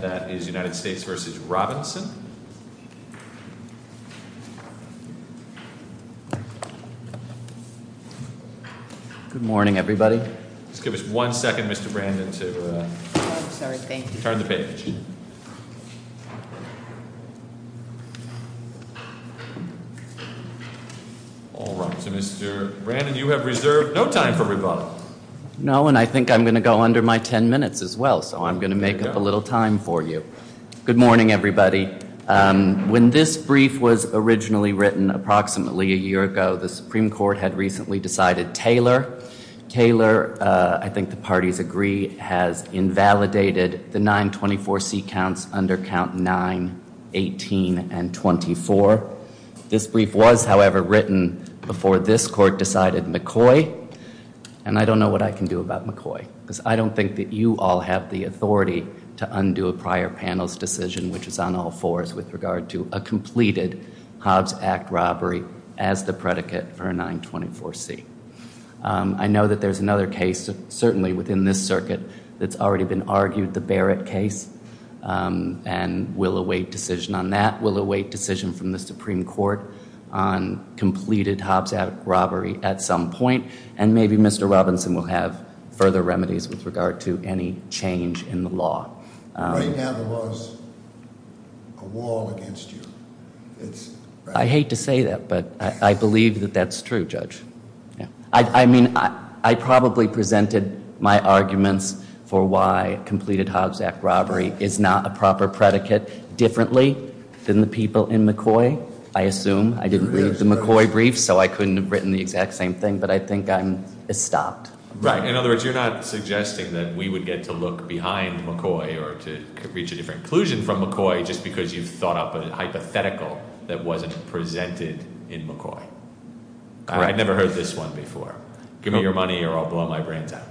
Good morning, everybody. Just give us one second, Mr. Brandon, to turn the page. All right. So, Mr. Brandon, you have reserved no time for rebuttal. No, and I think I'm going to go under my 10 minutes as well, so I'm going to make up a little time for you. Good morning, everybody. When this brief was originally written approximately a year ago, the Supreme Court had recently decided Taylor. Taylor, I think the parties agree, has invalidated the 924C counts under count 9, 18, and 24. This brief was, however, written before this court decided McCoy. And I don't know what I can do about McCoy, because I don't think that you all have the authority to undo a prior panel's decision, which is on all fours with regard to a completed Hobbs Act robbery as the predicate for a 924C. I know that there's another case, certainly within this circuit, that's already been argued, the Barrett case, and we'll await decision on that. We'll await decision from the Supreme Court on completed Hobbs Act robbery at some point, and maybe Mr. Robinson will have further remedies with regard to any change in the law. Right now there was a wall against you. I hate to say that, but I believe that that's true, Judge. I mean, I probably presented my arguments for why completed Hobbs Act robbery is not a proper predicate differently than the people in McCoy, I assume. I didn't read the McCoy brief, so I couldn't have written the exact same thing, but I think I'm stopped. Right. In other words, you're not suggesting that we would get to look behind McCoy or to reach a different conclusion from McCoy just because you've thought up a hypothetical that wasn't presented in McCoy. I've never heard this one before. Give me your money or I'll blow my brains out.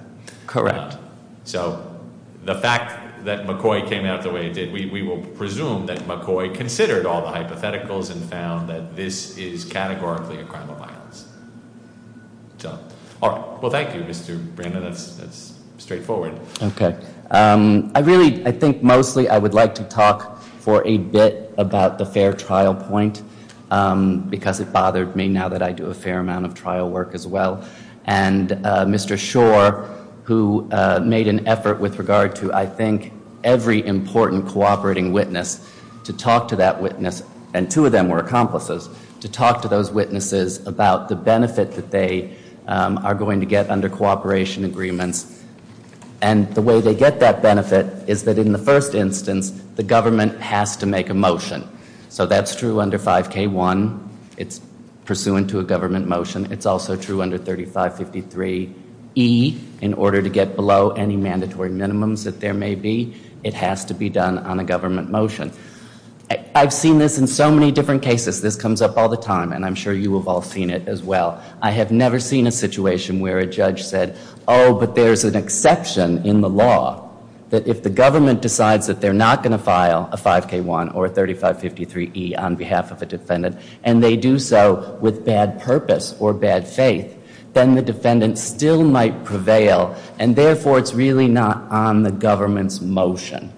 Correct. So the fact that McCoy came out the way it did, we will presume that McCoy considered all the hypotheticals and found that this is categorically a crime of violence. Well, thank you, Mr. Brandon. That's straightforward. Okay. I really, I think mostly I would like to talk for a bit about the fair trial point because it bothered me now that I do a fair amount of trial work as well. And Mr. Shore, who made an effort with regard to, I think, every important cooperating witness to talk to that witness, and two of them were accomplices, to talk to those witnesses about the benefit that they are going to get under cooperation agreements and the way they get that benefit is that in the first instance, the government has to make a motion. So that's true under 5K1. It's pursuant to a government motion. It's also true under 3553E. In order to get below any mandatory minimums that there may be, it has to be done on a government motion. I've seen this in so many different cases. This comes up all the time and I'm sure you have all seen it as well. I have never seen a situation where a judge said, oh, but there's an exception in the law that if the government decides that they're not going to file a 5K1 or a 3553E on behalf of a defendant and they do so with bad purpose or bad faith, then the defendant still might prevail and therefore it's really not on the government's motion.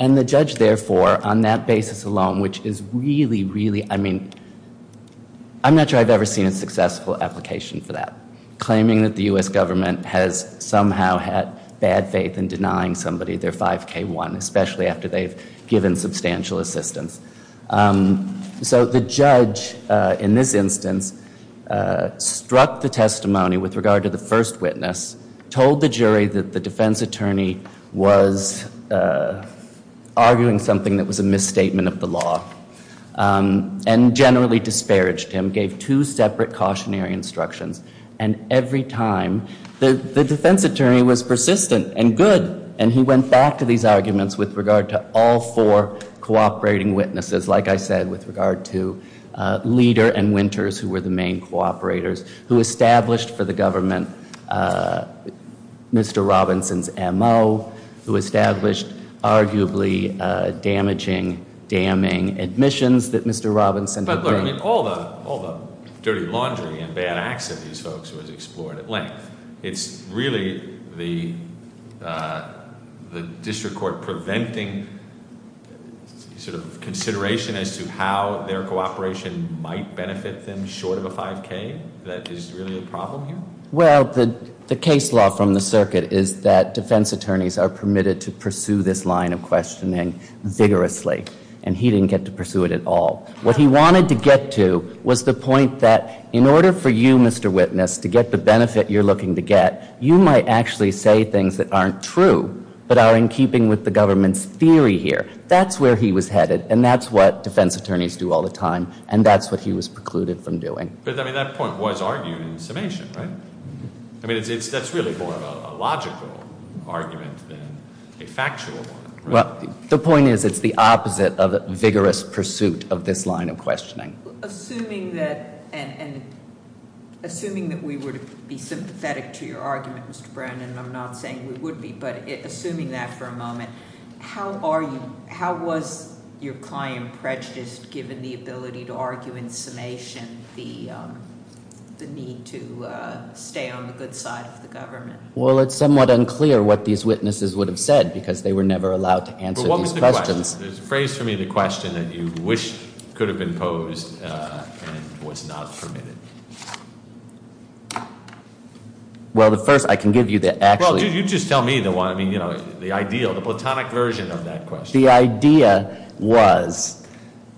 And the judge, therefore, on that basis alone, which is really, really, I mean, I'm not sure I've ever seen a successful application for that. Claiming that the U.S. government has somehow had bad faith in denying somebody their 5K1, especially after they've given substantial assistance. So the judge, in this instance, struck the testimony with regard to the first witness, told the jury that the defense attorney was arguing something that was a misstatement of the law and generally disparaged him, gave two separate cautionary instructions. And every time, the defense attorney was persistent and good and he went back to these arguments with regard to all four cooperating witnesses. Like I said, with regard to Leader and Winters, who were the main cooperators, who established for the government Mr. Robinson's M.O., who established arguably damaging, damning admissions that Mr. Robinson had made. But look, all the dirty laundry and bad acts of these folks was explored at length. It's really the district court preventing sort of consideration as to how their cooperation might benefit them short of a 5K that is really a problem here? Well, the case law from the circuit is that defense attorneys are permitted to pursue this line of questioning vigorously. And he didn't get to pursue it at all. What he wanted to get to was the point that in order for you, Mr. Witness, to get the benefit you're looking to get, you might actually say things that aren't true but are in keeping with the government's theory here. That's where he was headed. And that's what defense attorneys do all the time. And that's what he was precluded from doing. But, I mean, that point was argued in summation, right? I mean, that's really more of a logical argument than a factual one, right? Well, the point is it's the opposite of a vigorous pursuit of this line of questioning. Assuming that we would be sympathetic to your argument, Mr. Brandon, and I'm not saying we would be, but assuming that for a moment, how was your client prejudiced given the ability to argue in summation the need to stay on the good side of the government? Well, it's somewhat unclear what these witnesses would have said because they were never allowed to answer these questions. There's a phrase for me in the question that you wished could have been posed and was not permitted. Well, the first, I can give you the actual. Well, you just tell me the one. I mean, you know, the ideal, the platonic version of that question. The idea was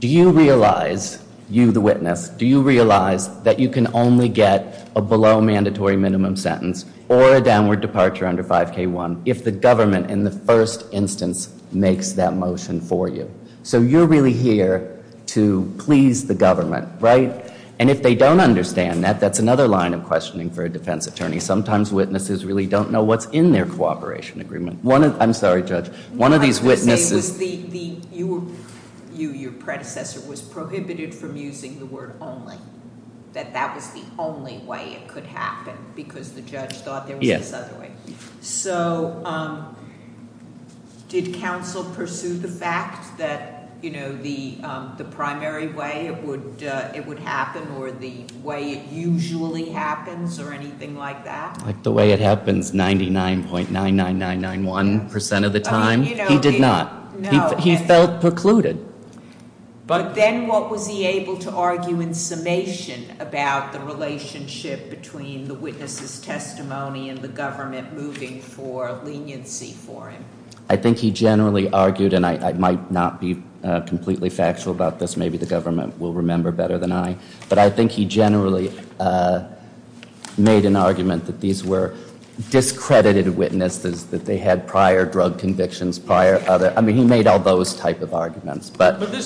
do you realize, you the witness, do you realize that you can only get a below mandatory minimum sentence or a downward departure under 5K1 if the government in the first instance makes that motion for you? So you're really here to please the government, right? And if they don't understand that, that's another line of questioning for a defense attorney. Sometimes witnesses really don't know what's in their cooperation agreement. I'm sorry, Judge. One of these witnesses- What I was going to say was you, your predecessor, was prohibited from using the word only. That that was the only way it could happen because the judge thought there was this other way. Yes. So did counsel pursue the fact that, you know, the primary way it would happen or the way it usually happens or anything like that? Like the way it happens 99.99991% of the time? He did not. He felt precluded. But then what was he able to argue in summation about the relationship between the witness's testimony and the government moving for leniency for him? I think he generally argued, and I might not be completely factual about this. Maybe the government will remember better than I. But I think he generally made an argument that these were discredited witnesses, that they had prior drug convictions, prior other- But this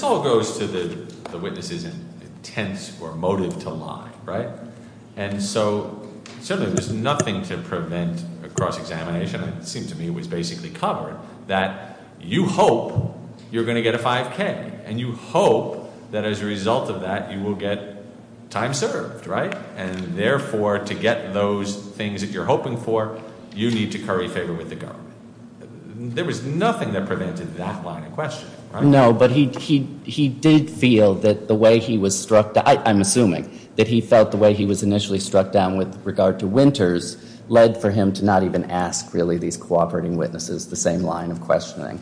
all goes to the witness's intent or motive to lie, right? And so certainly there's nothing to prevent a cross-examination. It seemed to me it was basically covered that you hope you're going to get a 5K, and you hope that as a result of that you will get time served, right? And therefore, to get those things that you're hoping for, you need to curry favor with the government. There was nothing that prevented that line of questioning, right? No, but he did feel that the way he was struck down- I'm assuming that he felt the way he was initially struck down with regard to Winters led for him to not even ask really these cooperating witnesses the same line of questioning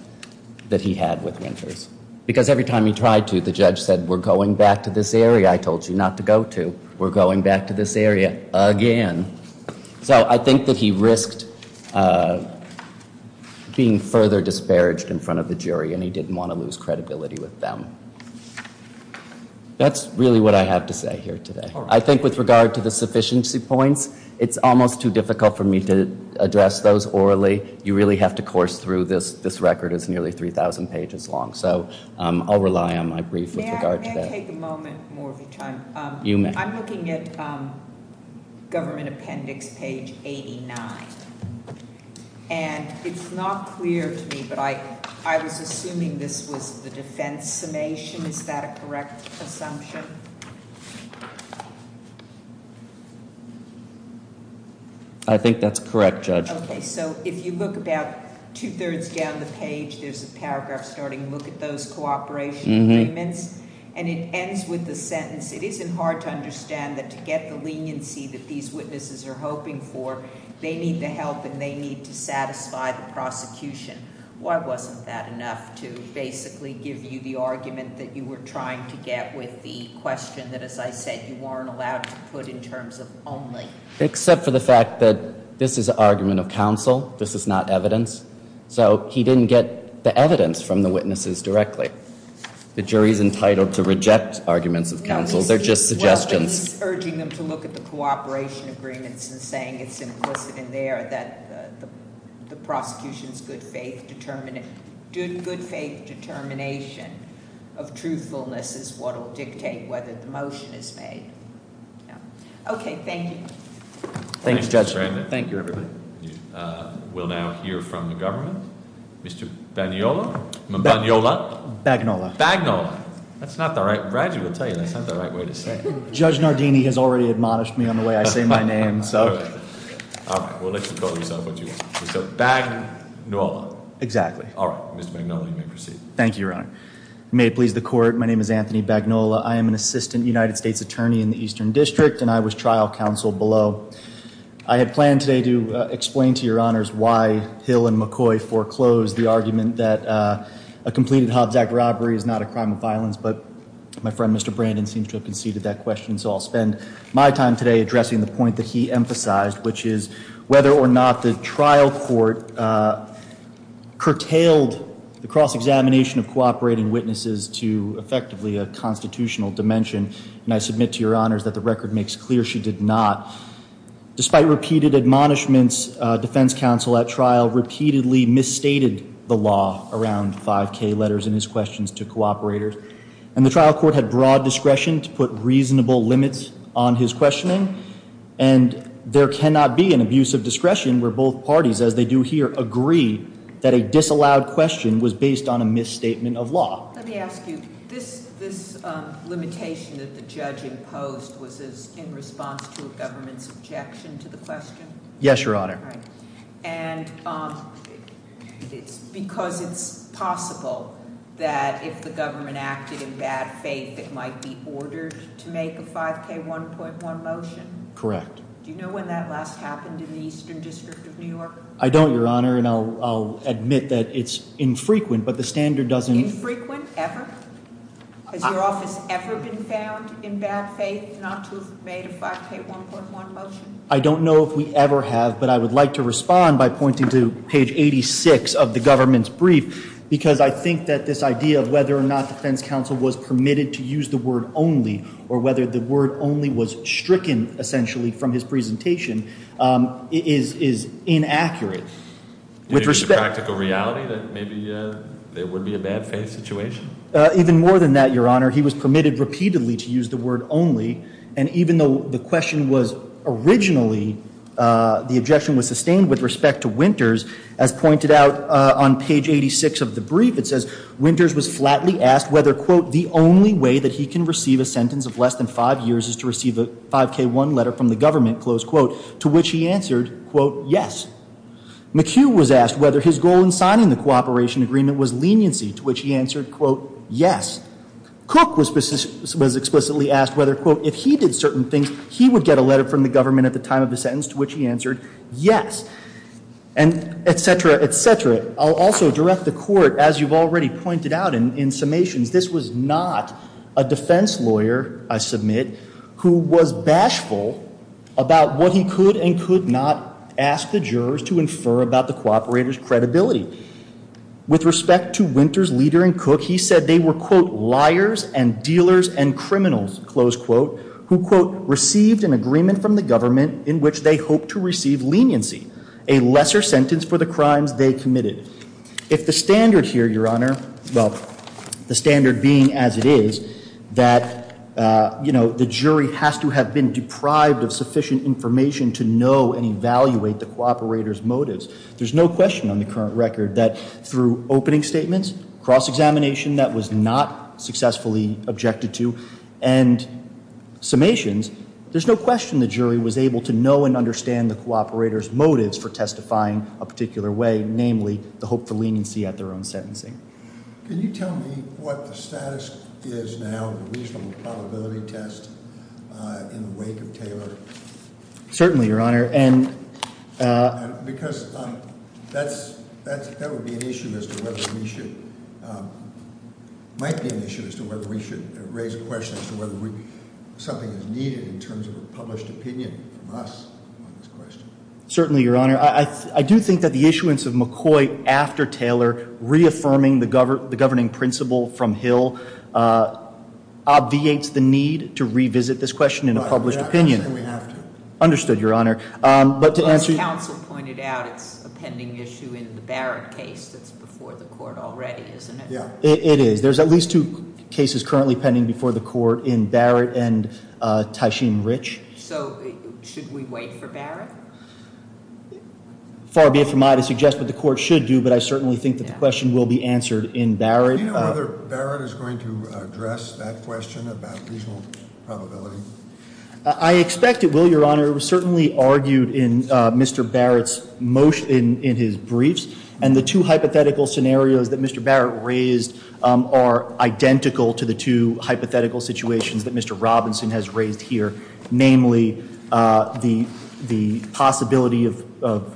that he had with Winters. Because every time he tried to, the judge said, We're going back to this area I told you not to go to. We're going back to this area again. So I think that he risked being further disparaged in front of the jury, and he didn't want to lose credibility with them. That's really what I have to say here today. I think with regard to the sufficiency points, it's almost too difficult for me to address those orally. You really have to course through. This record is nearly 3,000 pages long, so I'll rely on my brief with regard to that. May I take a moment more of your time? You may. I'm looking at government appendix page 89. And it's not clear to me, but I was assuming this was the defense summation. Is that a correct assumption? I think that's correct, Judge. Okay, so if you look about two-thirds down the page, there's a paragraph starting to look at those cooperation agreements. And it ends with the sentence, It isn't hard to understand that to get the leniency that these witnesses are hoping for, they need the help and they need to satisfy the prosecution. Why wasn't that enough to basically give you the argument that you were trying to get with the question that, as I said, you weren't allowed to put in terms of only? Except for the fact that this is an argument of counsel. This is not evidence. So he didn't get the evidence from the witnesses directly. The jury's entitled to reject arguments of counsel. They're just suggestions. He's urging them to look at the cooperation agreements and saying it's implicit in there that the prosecution's good faith determination of truthfulness is what will dictate whether the motion is made. Okay, thank you. Thank you, Judge. Thank you, everybody. We'll now hear from the government. Mr. Bagnola? Bagnola. Bagnola. That's not the right way to say it. Judge Nardini has already admonished me on the way I say my name. All right, well, let's call yourself what you want. Mr. Bagnola. Exactly. All right, Mr. Bagnola, you may proceed. Thank you, Your Honor. May it please the court, my name is Anthony Bagnola. I am an assistant United States attorney in the Eastern District, and I was trial counsel below. I had planned today to explain to Your Honors why Hill and McCoy foreclosed the argument that a completed Hobbs Act robbery is not a crime of violence, but my friend Mr. Brandon seems to have conceded that question, so I'll spend my time today addressing the point that he emphasized, which is whether or not the trial court curtailed the cross-examination of cooperating witnesses to effectively a constitutional dimension. And I submit to Your Honors that the record makes clear she did not. Despite repeated admonishments, defense counsel at trial repeatedly misstated the law around 5K letters and his questions to cooperators, and the trial court had broad discretion to put reasonable limits on his questioning, and there cannot be an abuse of discretion where both parties, as they do here, agree that a disallowed question was based on a misstatement of law. Let me ask you, this limitation that the judge imposed was in response to a government's objection to the question? Yes, Your Honor. And because it's possible that if the government acted in bad faith, it might be ordered to make a 5K 1.1 motion? Correct. Do you know when that last happened in the Eastern District of New York? I don't, Your Honor, and I'll admit that it's infrequent, but the standard doesn't- Infrequent, ever? Has your office ever been found in bad faith not to have made a 5K 1.1 motion? I don't know if we ever have, but I would like to respond by pointing to page 86 of the government's brief, because I think that this idea of whether or not defense counsel was permitted to use the word only, or whether the word only was stricken, essentially, from his presentation, is inaccurate. Is it practical reality that maybe there would be a bad faith situation? Even more than that, Your Honor, he was permitted repeatedly to use the word only, and even though the question was originally, the objection was sustained with respect to Winters, as pointed out on page 86 of the brief, it says, Winters was flatly asked whether, quote, the only way that he can receive a sentence of less than five years is to receive a 5K 1 letter from the government, close quote, to which he answered, quote, yes. McHugh was asked whether his goal in signing the cooperation agreement was leniency, to which he answered, quote, yes. Cook was explicitly asked whether, quote, if he did certain things, he would get a letter from the government at the time of the sentence, to which he answered, yes, and et cetera, et cetera. I'll also direct the Court, as you've already pointed out in summations, this was not a defense lawyer, I submit, who was bashful about what he could and could not ask the jurors to infer about the cooperator's credibility. With respect to Winters' leader in Cook, he said they were, quote, liars and dealers and criminals, close quote, who, quote, received an agreement from the government in which they hoped to receive leniency, a lesser sentence for the crimes they committed. If the standard here, Your Honor, well, the standard being as it is, that, you know, the jury has to have been deprived of sufficient information to know and evaluate the cooperator's motives, there's no question on the current record that through opening statements, cross-examination that was not successfully objected to, and summations, there's no question the jury was able to know and understand the cooperator's motives for testifying a particular way, namely the hope for leniency at their own sentencing. Can you tell me what the status is now of the reasonable probability test in the wake of Taylor? Certainly, Your Honor, and Because that would be an issue as to whether we should, might be an issue as to whether we should raise a question as to whether something is needed in terms of a published opinion from us on this question. Certainly, Your Honor. I do think that the issuance of McCoy after Taylor reaffirming the governing principle from Hill obviates the need to revisit this question in a published opinion. I say we have to. Understood, Your Honor. As counsel pointed out, it's a pending issue in the Barrett case that's before the court already, isn't it? It is. There's at least two cases currently pending before the court in Barrett and Tysheen Rich. So should we wait for Barrett? Far be it from me to suggest what the court should do, but I certainly think that the question will be answered in Barrett. Do you know whether Barrett is going to address that question about reasonable probability? I expect it will, Your Honor. It was certainly argued in Mr. Barrett's motion, in his briefs, and the two hypothetical scenarios that Mr. Barrett raised are identical to the two hypothetical situations that Mr. Robinson has raised here, namely the possibility of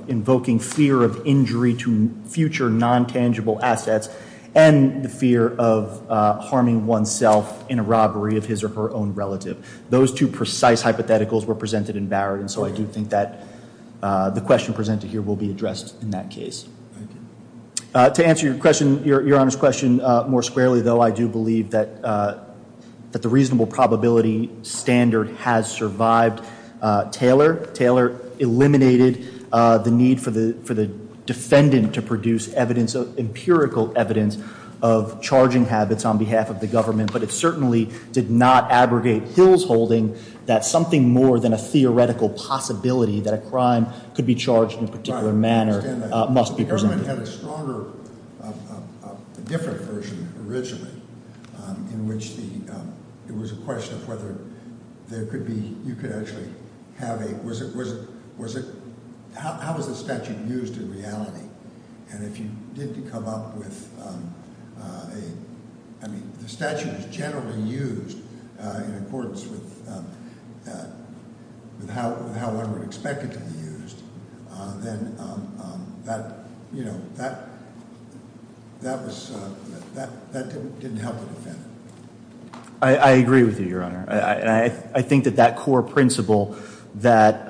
invoking fear of injury to future non-tangible assets and the fear of harming oneself in a robbery of his or her own relative. Those two precise hypotheticals were presented in Barrett, and so I do think that the question presented here will be addressed in that case. To answer Your Honor's question more squarely, though, I do believe that the reasonable probability standard has survived. Taylor eliminated the need for the defendant to produce empirical evidence of charging habits on behalf of the government, but it certainly did not abrogate Hill's holding that something more than a theoretical possibility that a crime could be charged in a particular manner must be presented. The government had a stronger, different version originally, in which there was a question of whether there could be, you could actually have a, was it, was it, how was the statute used in reality? And if you did come up with a, I mean, if the statute was generally used in accordance with how one would expect it to be used, then that, you know, that, that was, that didn't help the defendant. I agree with you, Your Honor. I think that that core principle that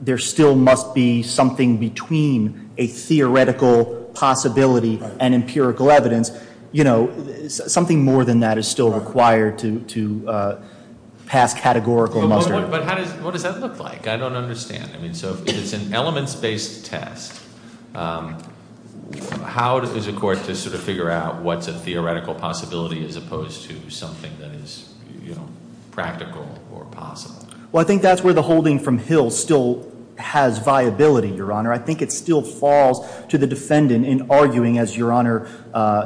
there still must be something between a theoretical possibility and empirical evidence, you know, something more than that is still required to pass categorical muster. But how does, what does that look like? I don't understand. I mean, so if it's an elements-based test, how does a court just sort of figure out what's a theoretical possibility as opposed to something that is, you know, practical or possible? Well, I think that's where the holding from Hill still has viability, Your Honor. I think it still falls to the defendant in arguing, as Your Honor,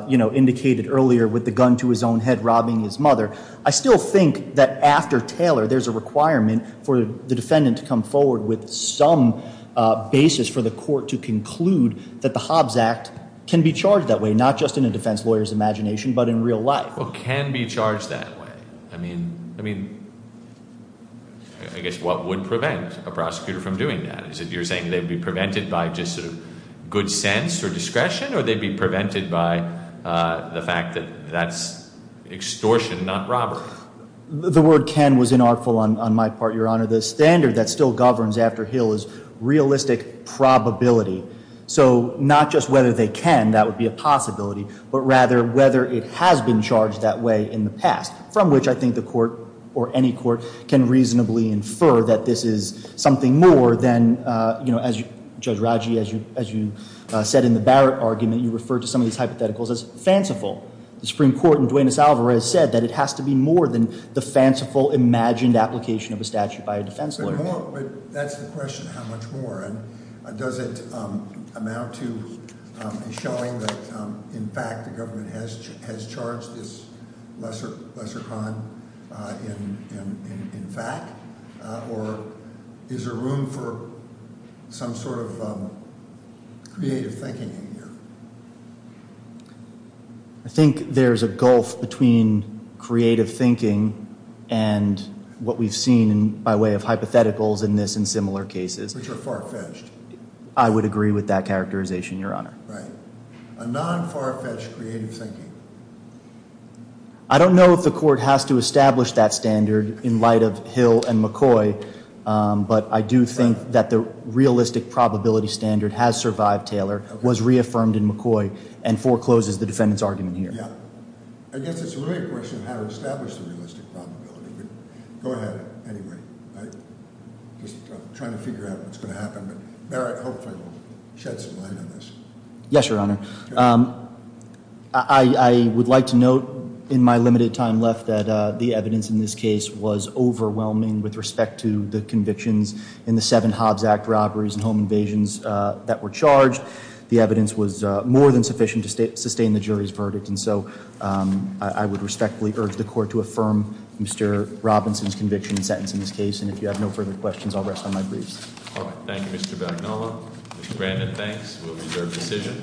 you know, indicated earlier with the gun to his own head robbing his mother. I still think that after Taylor, there's a requirement for the defendant to come forward with some basis for the court to conclude that the Hobbs Act can be charged that way, not just in a defense lawyer's imagination, but in real life. Well, it can be charged that way. I mean, I mean, I guess what would prevent a prosecutor from doing that? Is it you're saying they would be prevented by just sort of good sense or discretion, or they'd be prevented by the fact that that's extortion, not robbery? The word can was inartful on my part, Your Honor. The standard that still governs after Hill is realistic probability. So not just whether they can, that would be a possibility, but rather whether it has been charged that way in the past, from which I think the court, or any court, can reasonably infer that this is something more than, you know, as Judge Raji, as you said in the Barrett argument, you referred to some of these hypotheticals as fanciful. The Supreme Court in Duenas-Alvarez said that it has to be more than the fanciful imagined application of a statute by a defense lawyer. But that's the question, how much more? And does it amount to showing that, in fact, the government has charged this lesser crime in fact? Or is there room for some sort of creative thinking in here? I think there's a gulf between creative thinking and what we've seen by way of hypotheticals in this and similar cases. Which are far-fetched. I would agree with that characterization, Your Honor. Right. A non-far-fetched creative thinking. I don't know if the court has to establish that standard in light of Hill and McCoy, but I do think that the realistic probability standard has survived Taylor, was reaffirmed in McCoy, and forecloses the defendant's argument here. Yeah. I guess it's really a question of how to establish the realistic probability. Go ahead, anyway. I'm just trying to figure out what's going to happen. But Merritt, hopefully, will shed some light on this. Yes, Your Honor. I would like to note in my limited time left that the evidence in this case was overwhelming with respect to the convictions in the seven Hobbs Act robberies and home invasions that were charged. The evidence was more than sufficient to sustain the jury's verdict. And so, I would respectfully urge the court to affirm Mr. Robinson's conviction and sentence in this case. And if you have no further questions, I'll rest on my briefs. All right. Thank you, Mr. Bagnolo. Mr. Brandon, thanks. We'll reserve decision.